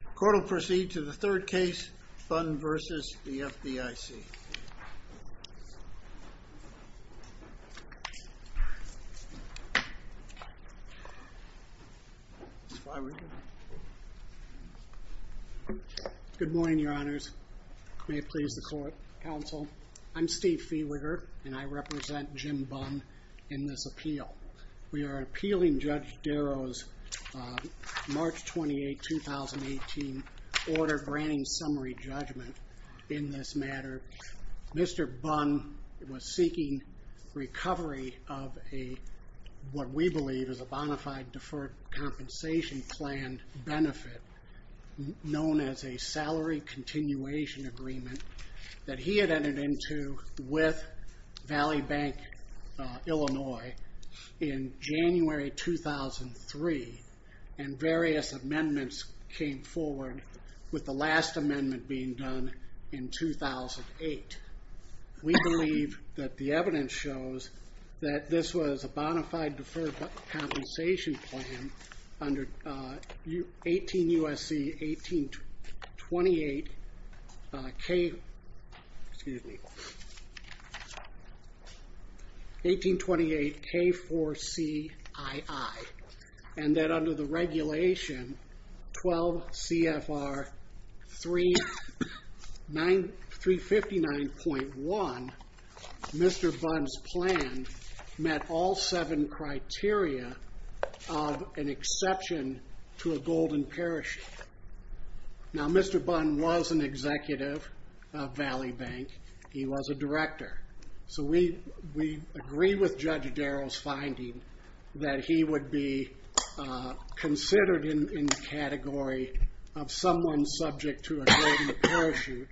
The court will proceed to the third case, Bunn v. FDIC. Good morning, your honors. May it please the court, counsel. I'm Steve Feeberger, and I represent Jim Bunn in this appeal. We are appealing Judge Darrow's March 28, 2018, order granting summary judgment in this matter. Mr. Bunn was seeking recovery of what we believe is a bona fide deferred compensation plan benefit known as a salary continuation agreement that he had entered into with Valley Bank Illinois in January 2003, and various amendments came forward with the last amendment being done in 2008. We believe that the evidence shows that this was a bona fide deferred compensation plan under 18 U.S.C. 1828 K4CII, and that under the regulation 12 CFR 359.1, Mr. Bunn's plan met all seven criteria of an exception to a golden parachute. Now, Mr. Bunn was an executive of Valley Bank. He was a director. So we agree with Judge Darrow's finding that he would be considered in the category of someone subject to a golden parachute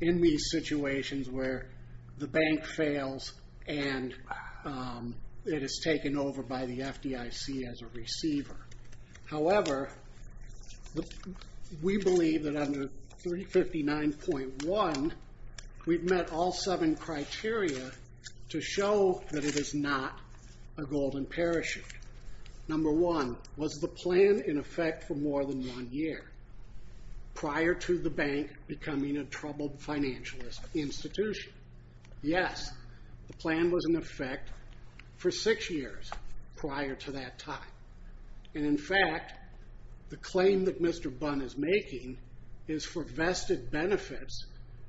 in these situations where the bank fails and it is taken over by the FDIC as a receiver. However, we believe that under 359.1, we've met all seven criteria to show that it is not a golden parachute. Number one, was the plan in effect for more than one year prior to the bank becoming a troubled financial institution? Yes, the plan was in effect for six years prior to that time. And in fact, the claim that Mr. Bunn is making is for vested benefits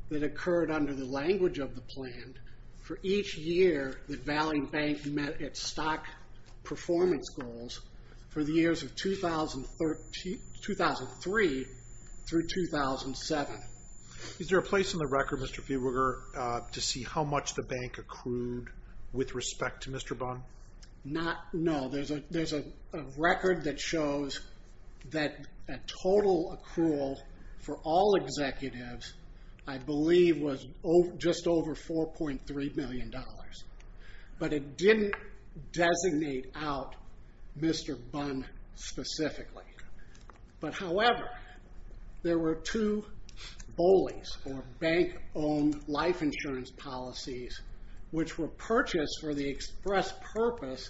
that occurred under the language of the plan for each year that Valley Bank met its stock performance goals for the years of 2003 through 2007. Is there a place in the record, Mr. Feeberger, to see how much the bank accrued with respect to Mr. Bunn? No, there's a record that shows that total accrual for all executives, I believe, was just over $4.3 million. But it didn't designate out Mr. Bunn specifically. But however, there were two BOLIs, or bank-owned life insurance policies, which were purchased for the express purpose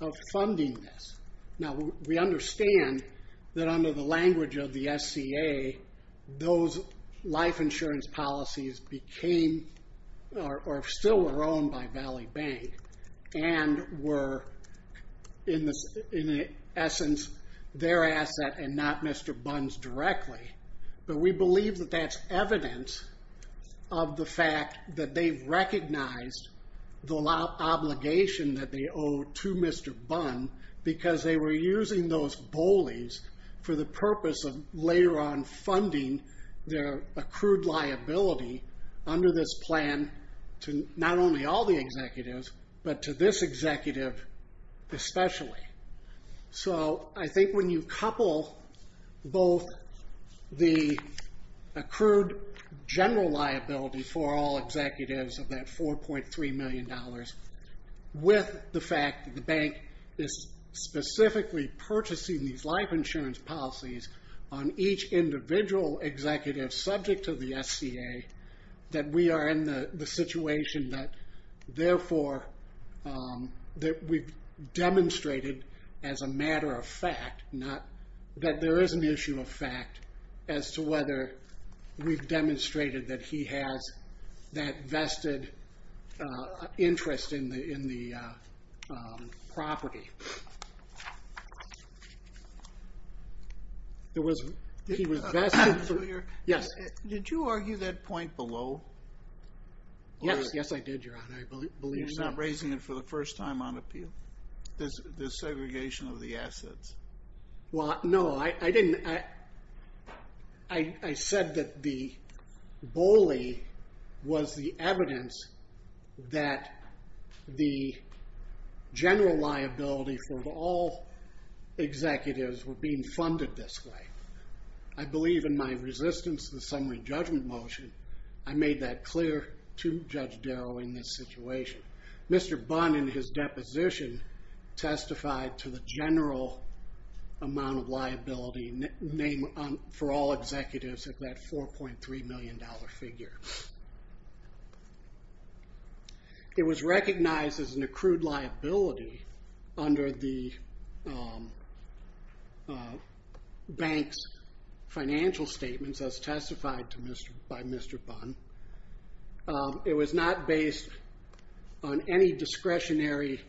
of funding this. Now, we understand that under the language of the SCA, those life insurance policies still were owned by Valley Bank and were, in essence, their asset and not Mr. Bunn's directly. But we believe that that's evidence of the fact that they've recognized the obligation that they owe to Mr. Bunn because they were using those BOLIs for the purpose of later on funding their accrued liability under this plan to not only all the executives, but to this executive especially. So I think when you couple both the accrued general liability for all executives of that $4.3 million with the fact that the bank is specifically purchasing these life insurance policies on each individual executive subject to the SCA, that we are in the situation that therefore we've demonstrated as a matter of fact, that there is an issue of fact as to whether we've demonstrated that he has that vested interest in the property. He was vested... Did you argue that point below? Yes, I did, Your Honor. You're not raising it for the first time on appeal? The segregation of the assets? Well, no, I didn't... I said that the BOLI was the evidence that the general liability for all executives were being funded this way. I believe in my resistance to the summary judgment motion, I made that clear to Judge Darrow in this situation. Mr. Bunn in his deposition testified to the general amount of liability for all executives of that $4.3 million figure. It was recognized as an accrued liability under the bank's financial statements as testified by Mr. Bunn. It was not based on any discretionary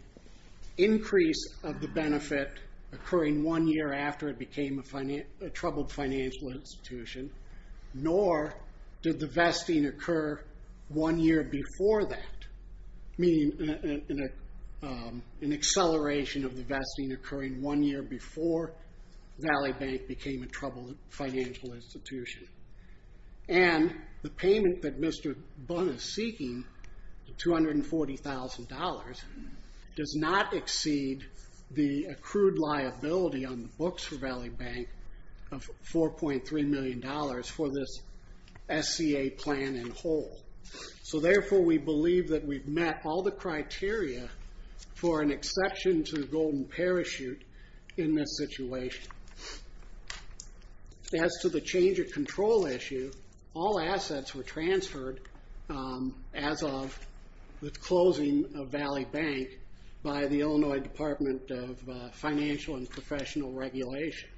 increase of the benefit occurring one year after it became a troubled financial institution, nor did the vesting occur one year before that, meaning an acceleration of the vesting occurring one year before Valley Bank became a troubled financial institution. And the payment that Mr. Bunn is seeking, $240,000, does not exceed the accrued liability on the books for Valley Bank of $4.3 million for this SCA plan in whole. So therefore, we believe that we've met all the criteria for an exception to the golden parachute in this situation. As to the change of control issue, all assets were transferred as of the closing of Valley Bank by the Illinois Department of Financial and Professional Regulation.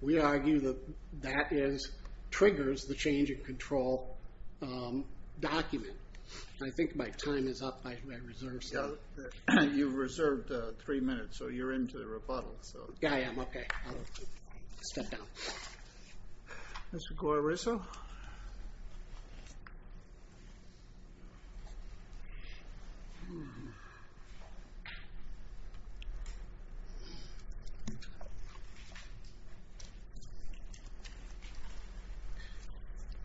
We argue that that triggers the change of control document. I think my time is up. You've reserved three minutes, so you're into the rebuttal. Yeah, I am. Okay. I'll step down. Mr. Gorriso?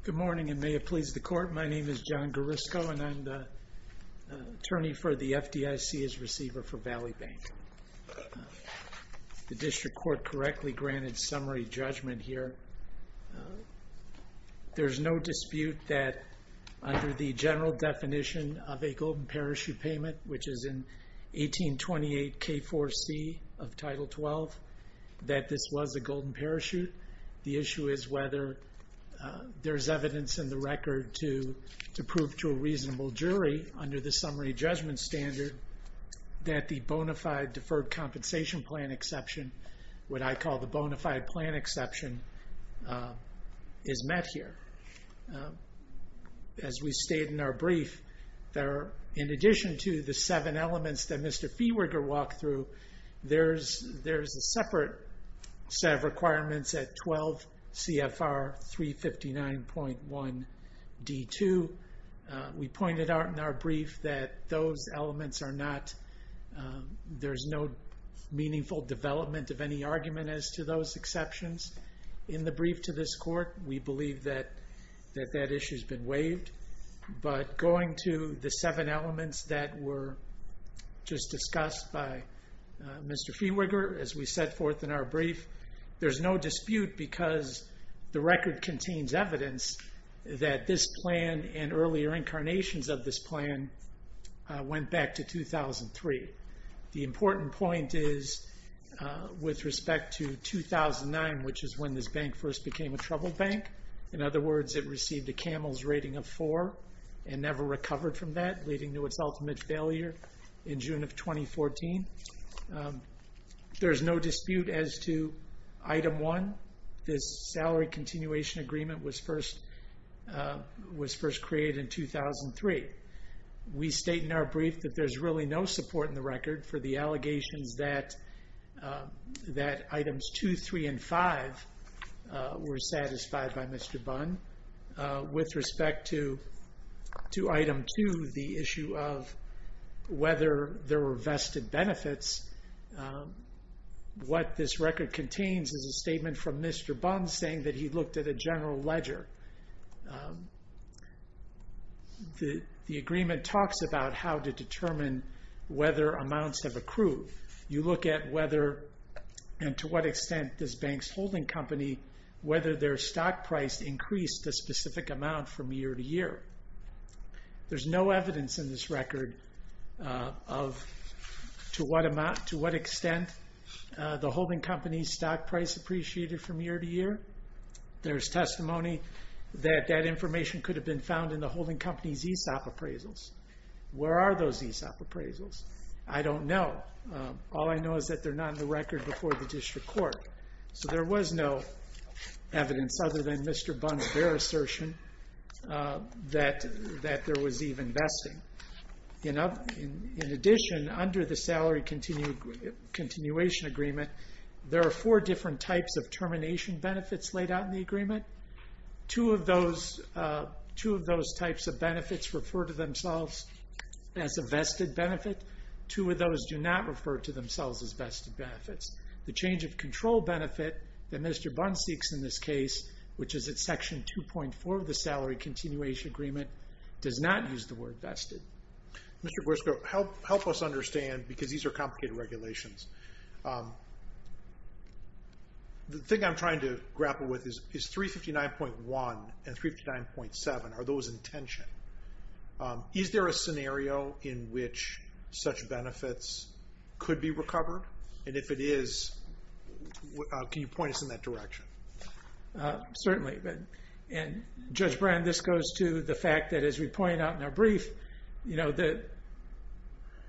Good morning, and may it please the Court. My name is John Gorriso, and I'm the attorney for the FDIC as receiver for Valley Bank. The district court correctly granted summary judgment here. There's no dispute that under the general definition of a golden parachute payment, which is in 1828 K4C of Title 12, that this was a golden parachute. The issue is whether there's evidence in the record to prove to a reasonable jury under the summary judgment standard that the bona fide deferred compensation plan exception, what I call the bona fide plan exception, is met here. As we state in our brief, in addition to the seven elements that Mr. Feewiger walked through, there's a separate set of requirements at 12 CFR 359.1 D2. We pointed out in our brief that those elements are not, there's no meaningful development of any argument as to those exceptions. In the brief to this court, we believe that that issue's been waived. But going to the seven elements that were just discussed by Mr. Feewiger, as we set forth in our brief, there's no dispute because the record contains evidence that this plan and earlier incarnations of this plan went back to 2003. The important point is with respect to 2009, which is when this bank first became a troubled bank. In other words, it received a Camels rating of four and never recovered from that, leading to its ultimate failure in June of 2014. There's no dispute as to Item 1. This salary continuation agreement was first created in 2003. We state in our brief that there's really no support in the record for the allegations that Items 2, 3, and 5 were satisfied by Mr. Bunn. With respect to Item 2, the issue of whether there were vested benefits, what this record contains is a statement from Mr. Bunn saying that he looked at a general ledger. The agreement talks about how to determine whether amounts have accrued. You look at whether and to what extent this bank's holding company, whether their stock price increased a specific amount from year to year. There's no evidence in this record of to what extent the holding company's stock price appreciated from year to year. There's testimony that that information could have been found in the holding company's ESOP appraisals. Where are those ESOP appraisals? I don't know. All I know is that they're not in the record before the district court. So there was no evidence other than Mr. Bunn's bare assertion that there was even vesting. In addition, under the salary continuation agreement, there are four different types of termination benefits laid out in the agreement. Two of those types of benefits refer to themselves as a vested benefit. Two of those do not refer to themselves as vested benefits. The change of control benefit that Mr. Bunn seeks in this case, which is at section 2.4 of the salary continuation agreement, does not use the word vested. Mr. Gorsko, help us understand, because these are complicated regulations. The thing I'm trying to grapple with is 359.1 and 359.7. Are those in tension? Is there a scenario in which such benefits could be recovered? And if it is, can you point us in that direction? Certainly. Judge Brand, this goes to the fact that, as we point out in our brief, that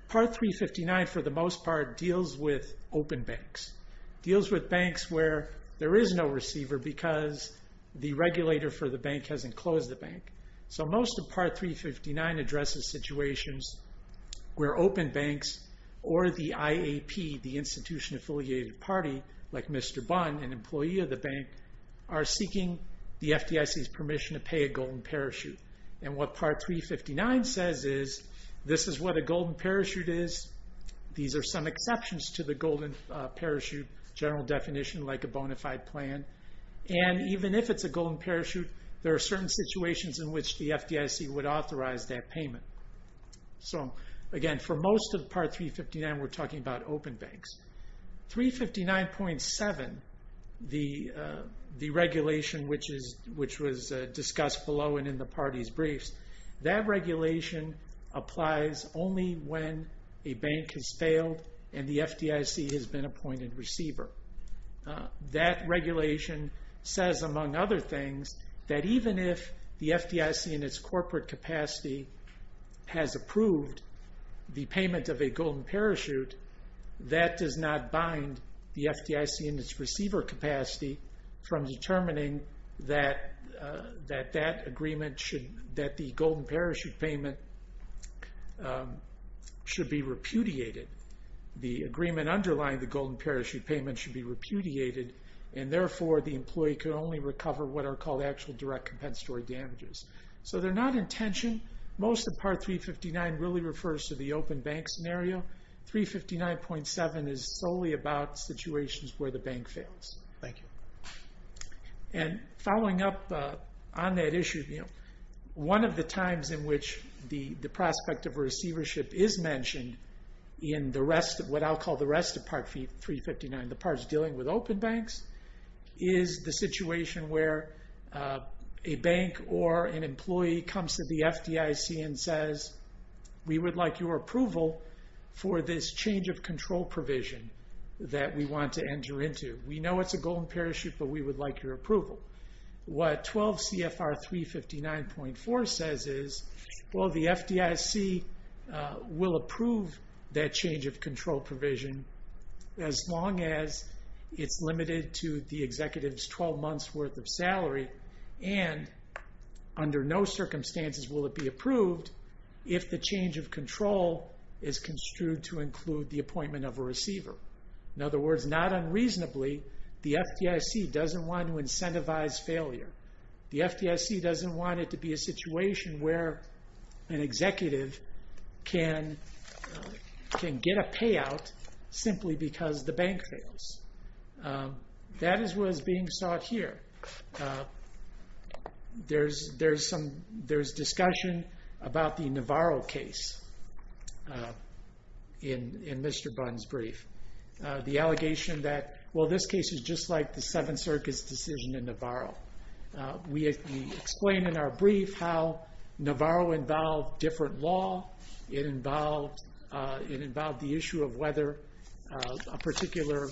Part 359, for the most part, deals with open banks. It deals with banks where there is no receiver because the regulator for the bank hasn't closed the bank. So most of Part 359 addresses situations where open banks or the IAP, the institution-affiliated party, like Mr. Bunn, an employee of the bank, are seeking the FDIC's permission to pay a golden parachute. And what Part 359 says is, this is what a golden parachute is. These are some exceptions to the golden parachute general definition, like a bona fide plan. And even if it's a golden parachute, there are certain situations in which the FDIC would authorize that payment. So again, for most of Part 359, we're talking about open banks. 359.7, the regulation which was discussed below and in the party's briefs, that regulation applies only when a bank has failed and the FDIC has been appointed receiver. That regulation says, among other things, that even if the FDIC in its corporate capacity has approved the payment of a golden parachute, that does not bind the FDIC in its receiver capacity from determining that the golden parachute payment should be repudiated. The agreement underlying the golden parachute payment should be repudiated, and therefore the employee can only recover what are called actual direct compensatory damages. So they're not in tension. Most of Part 359 really refers to the open bank scenario. 359.7 is solely about situations where the bank fails. Thank you. And following up on that issue, one of the times in which the prospect of receivership is mentioned in what I'll call the rest of Part 359, in the parts dealing with open banks, is the situation where a bank or an employee comes to the FDIC and says, we would like your approval for this change of control provision that we want to enter into. We know it's a golden parachute, but we would like your approval. What 12 CFR 359.4 says is, well, the FDIC will approve that change of control provision as long as it's limited to the executive's 12 months' worth of salary, and under no circumstances will it be approved if the change of control is construed to include the appointment of a receiver. In other words, not unreasonably, the FDIC doesn't want to incentivize failure. The FDIC doesn't want it to be a situation where an executive can get a payout simply because the bank fails. That is what is being sought here. There's discussion about the Navarro case in Mr. Bunn's brief. The allegation that, well, this case is just like the Seventh Circus decision in Navarro. We explain in our brief how Navarro involved different law. It involved the issue of whether a particular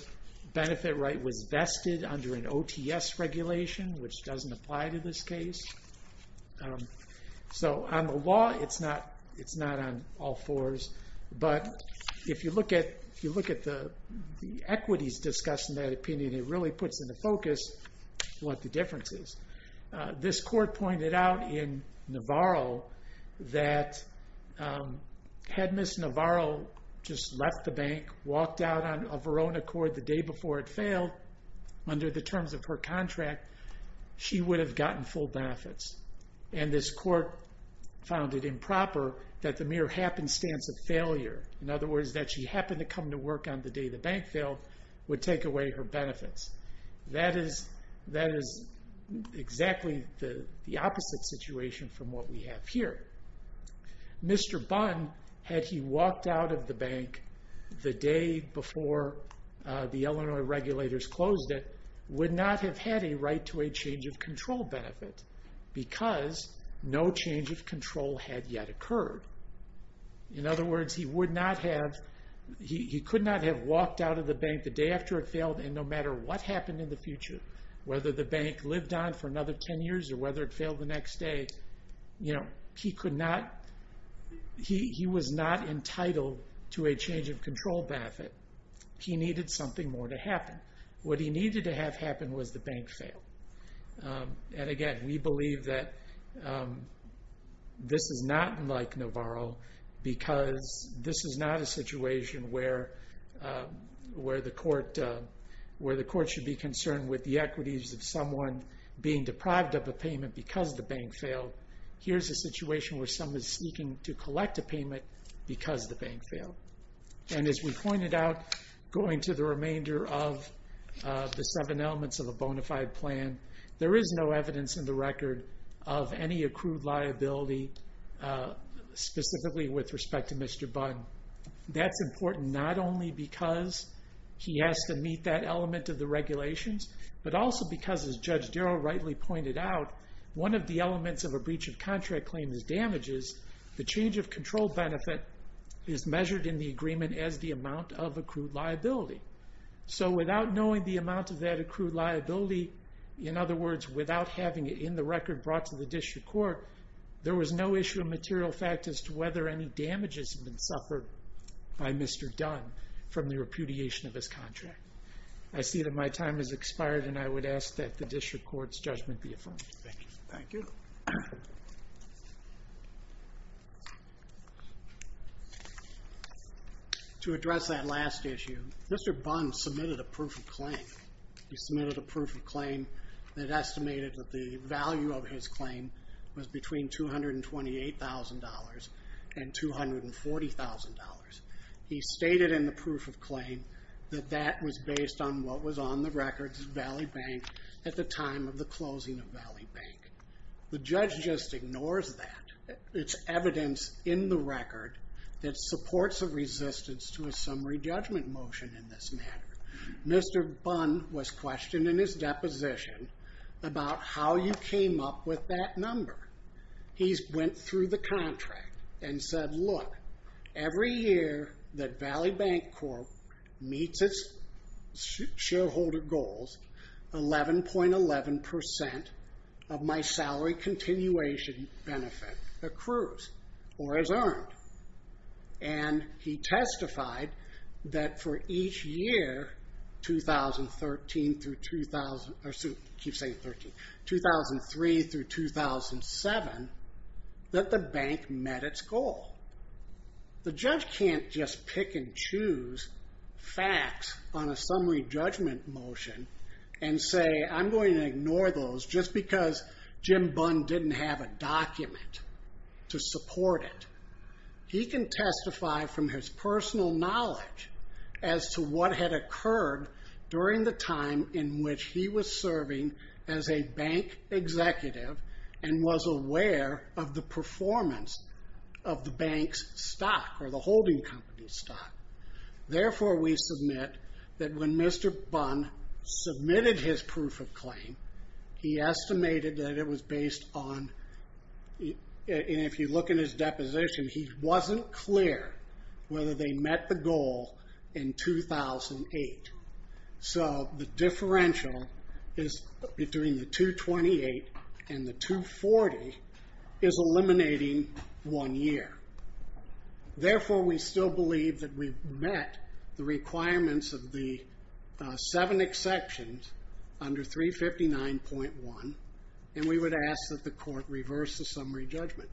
benefit right was vested under an OTS regulation, which doesn't apply to this case. On the law, it's not on all fours, but if you look at the equities discussed in that opinion, it really puts into focus what the difference is. This court pointed out in Navarro that, had Ms. Navarro just left the bank, walked out on her own accord the day before it failed, under the terms of her contract, she would have gotten full benefits. This court found it improper that the mere happenstance of failure, in other words, that she happened to come to work on the day the bank failed, would take away her benefits. That is exactly the opposite situation from what we have here. Mr. Bunn, had he walked out of the bank the day before the Illinois regulators closed it, would not have had a right to a change of control benefit because no change of control had yet occurred. In other words, he could not have walked out of the bank the day after it failed, and no matter what happened in the future, whether the bank lived on for another 10 years or whether it failed the next day, he was not entitled to a change of control benefit. He needed something more to happen. What he needed to have happen was the bank fail. Again, we believe that this is not unlike Navarro because this is not a situation where the court should be concerned with the equities of someone being deprived of a payment because the bank failed. Here's a situation where someone is seeking to collect a payment because the bank failed. As we pointed out, going to the remainder of the seven elements of a bona fide plan, there is no evidence in the record of any accrued liability, specifically with respect to Mr. Bunn. That's important not only because he has to meet that element of the regulations, but also because, as Judge Darrow rightly pointed out, one of the elements of a breach of contract claim is damages. The change of control benefit is measured in the agreement as the amount of accrued liability. So without knowing the amount of that accrued liability, in other words, without having it in the record brought to the district court, there was no issue of material fact as to whether any damages had been suffered by Mr. Dunn from the repudiation of his contract. I see that my time has expired, and I would ask that the district court's judgment be affirmed. Thank you. Thank you. To address that last issue, Mr. Bunn submitted a proof of claim. He submitted a proof of claim that estimated that the value of his claim was between $228,000 and $240,000. He stated in the proof of claim that that was based on what was on the record at the time of the closing of Valley Bank. The judge just ignores that. It's evidence in the record that supports a resistance to a summary judgment motion in this matter. Mr. Bunn was questioned in his deposition about how you came up with that number. He went through the contract and said, Look, every year that Valley Bank Corp. meets its shareholder goals, 11.11% of my salary continuation benefit accrues or is earned. He testified that for each year, 2003 through 2007, that the bank met its goal. The judge can't just pick and choose facts on a summary judgment motion and say, I'm going to ignore those just because Jim Bunn didn't have a document to support it. He can testify from his personal knowledge as to what had occurred during the time in which he was serving as a bank executive and was aware of the performance of the bank's stock or the holding company's stock. Therefore, we submit that when Mr. Bunn submitted his proof of claim, he estimated that it was based on, and if you look in his deposition, he wasn't clear whether they met the goal in 2008. So the differential is between the 228 and the 240 is eliminating one year. Therefore, we still believe that we met the requirements of the seven exceptions under 359.1, and we would ask that the court reverse the summary judgment.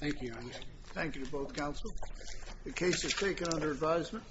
Thank you, Your Honor. Thank you to both counsel. The case is taken under advisement.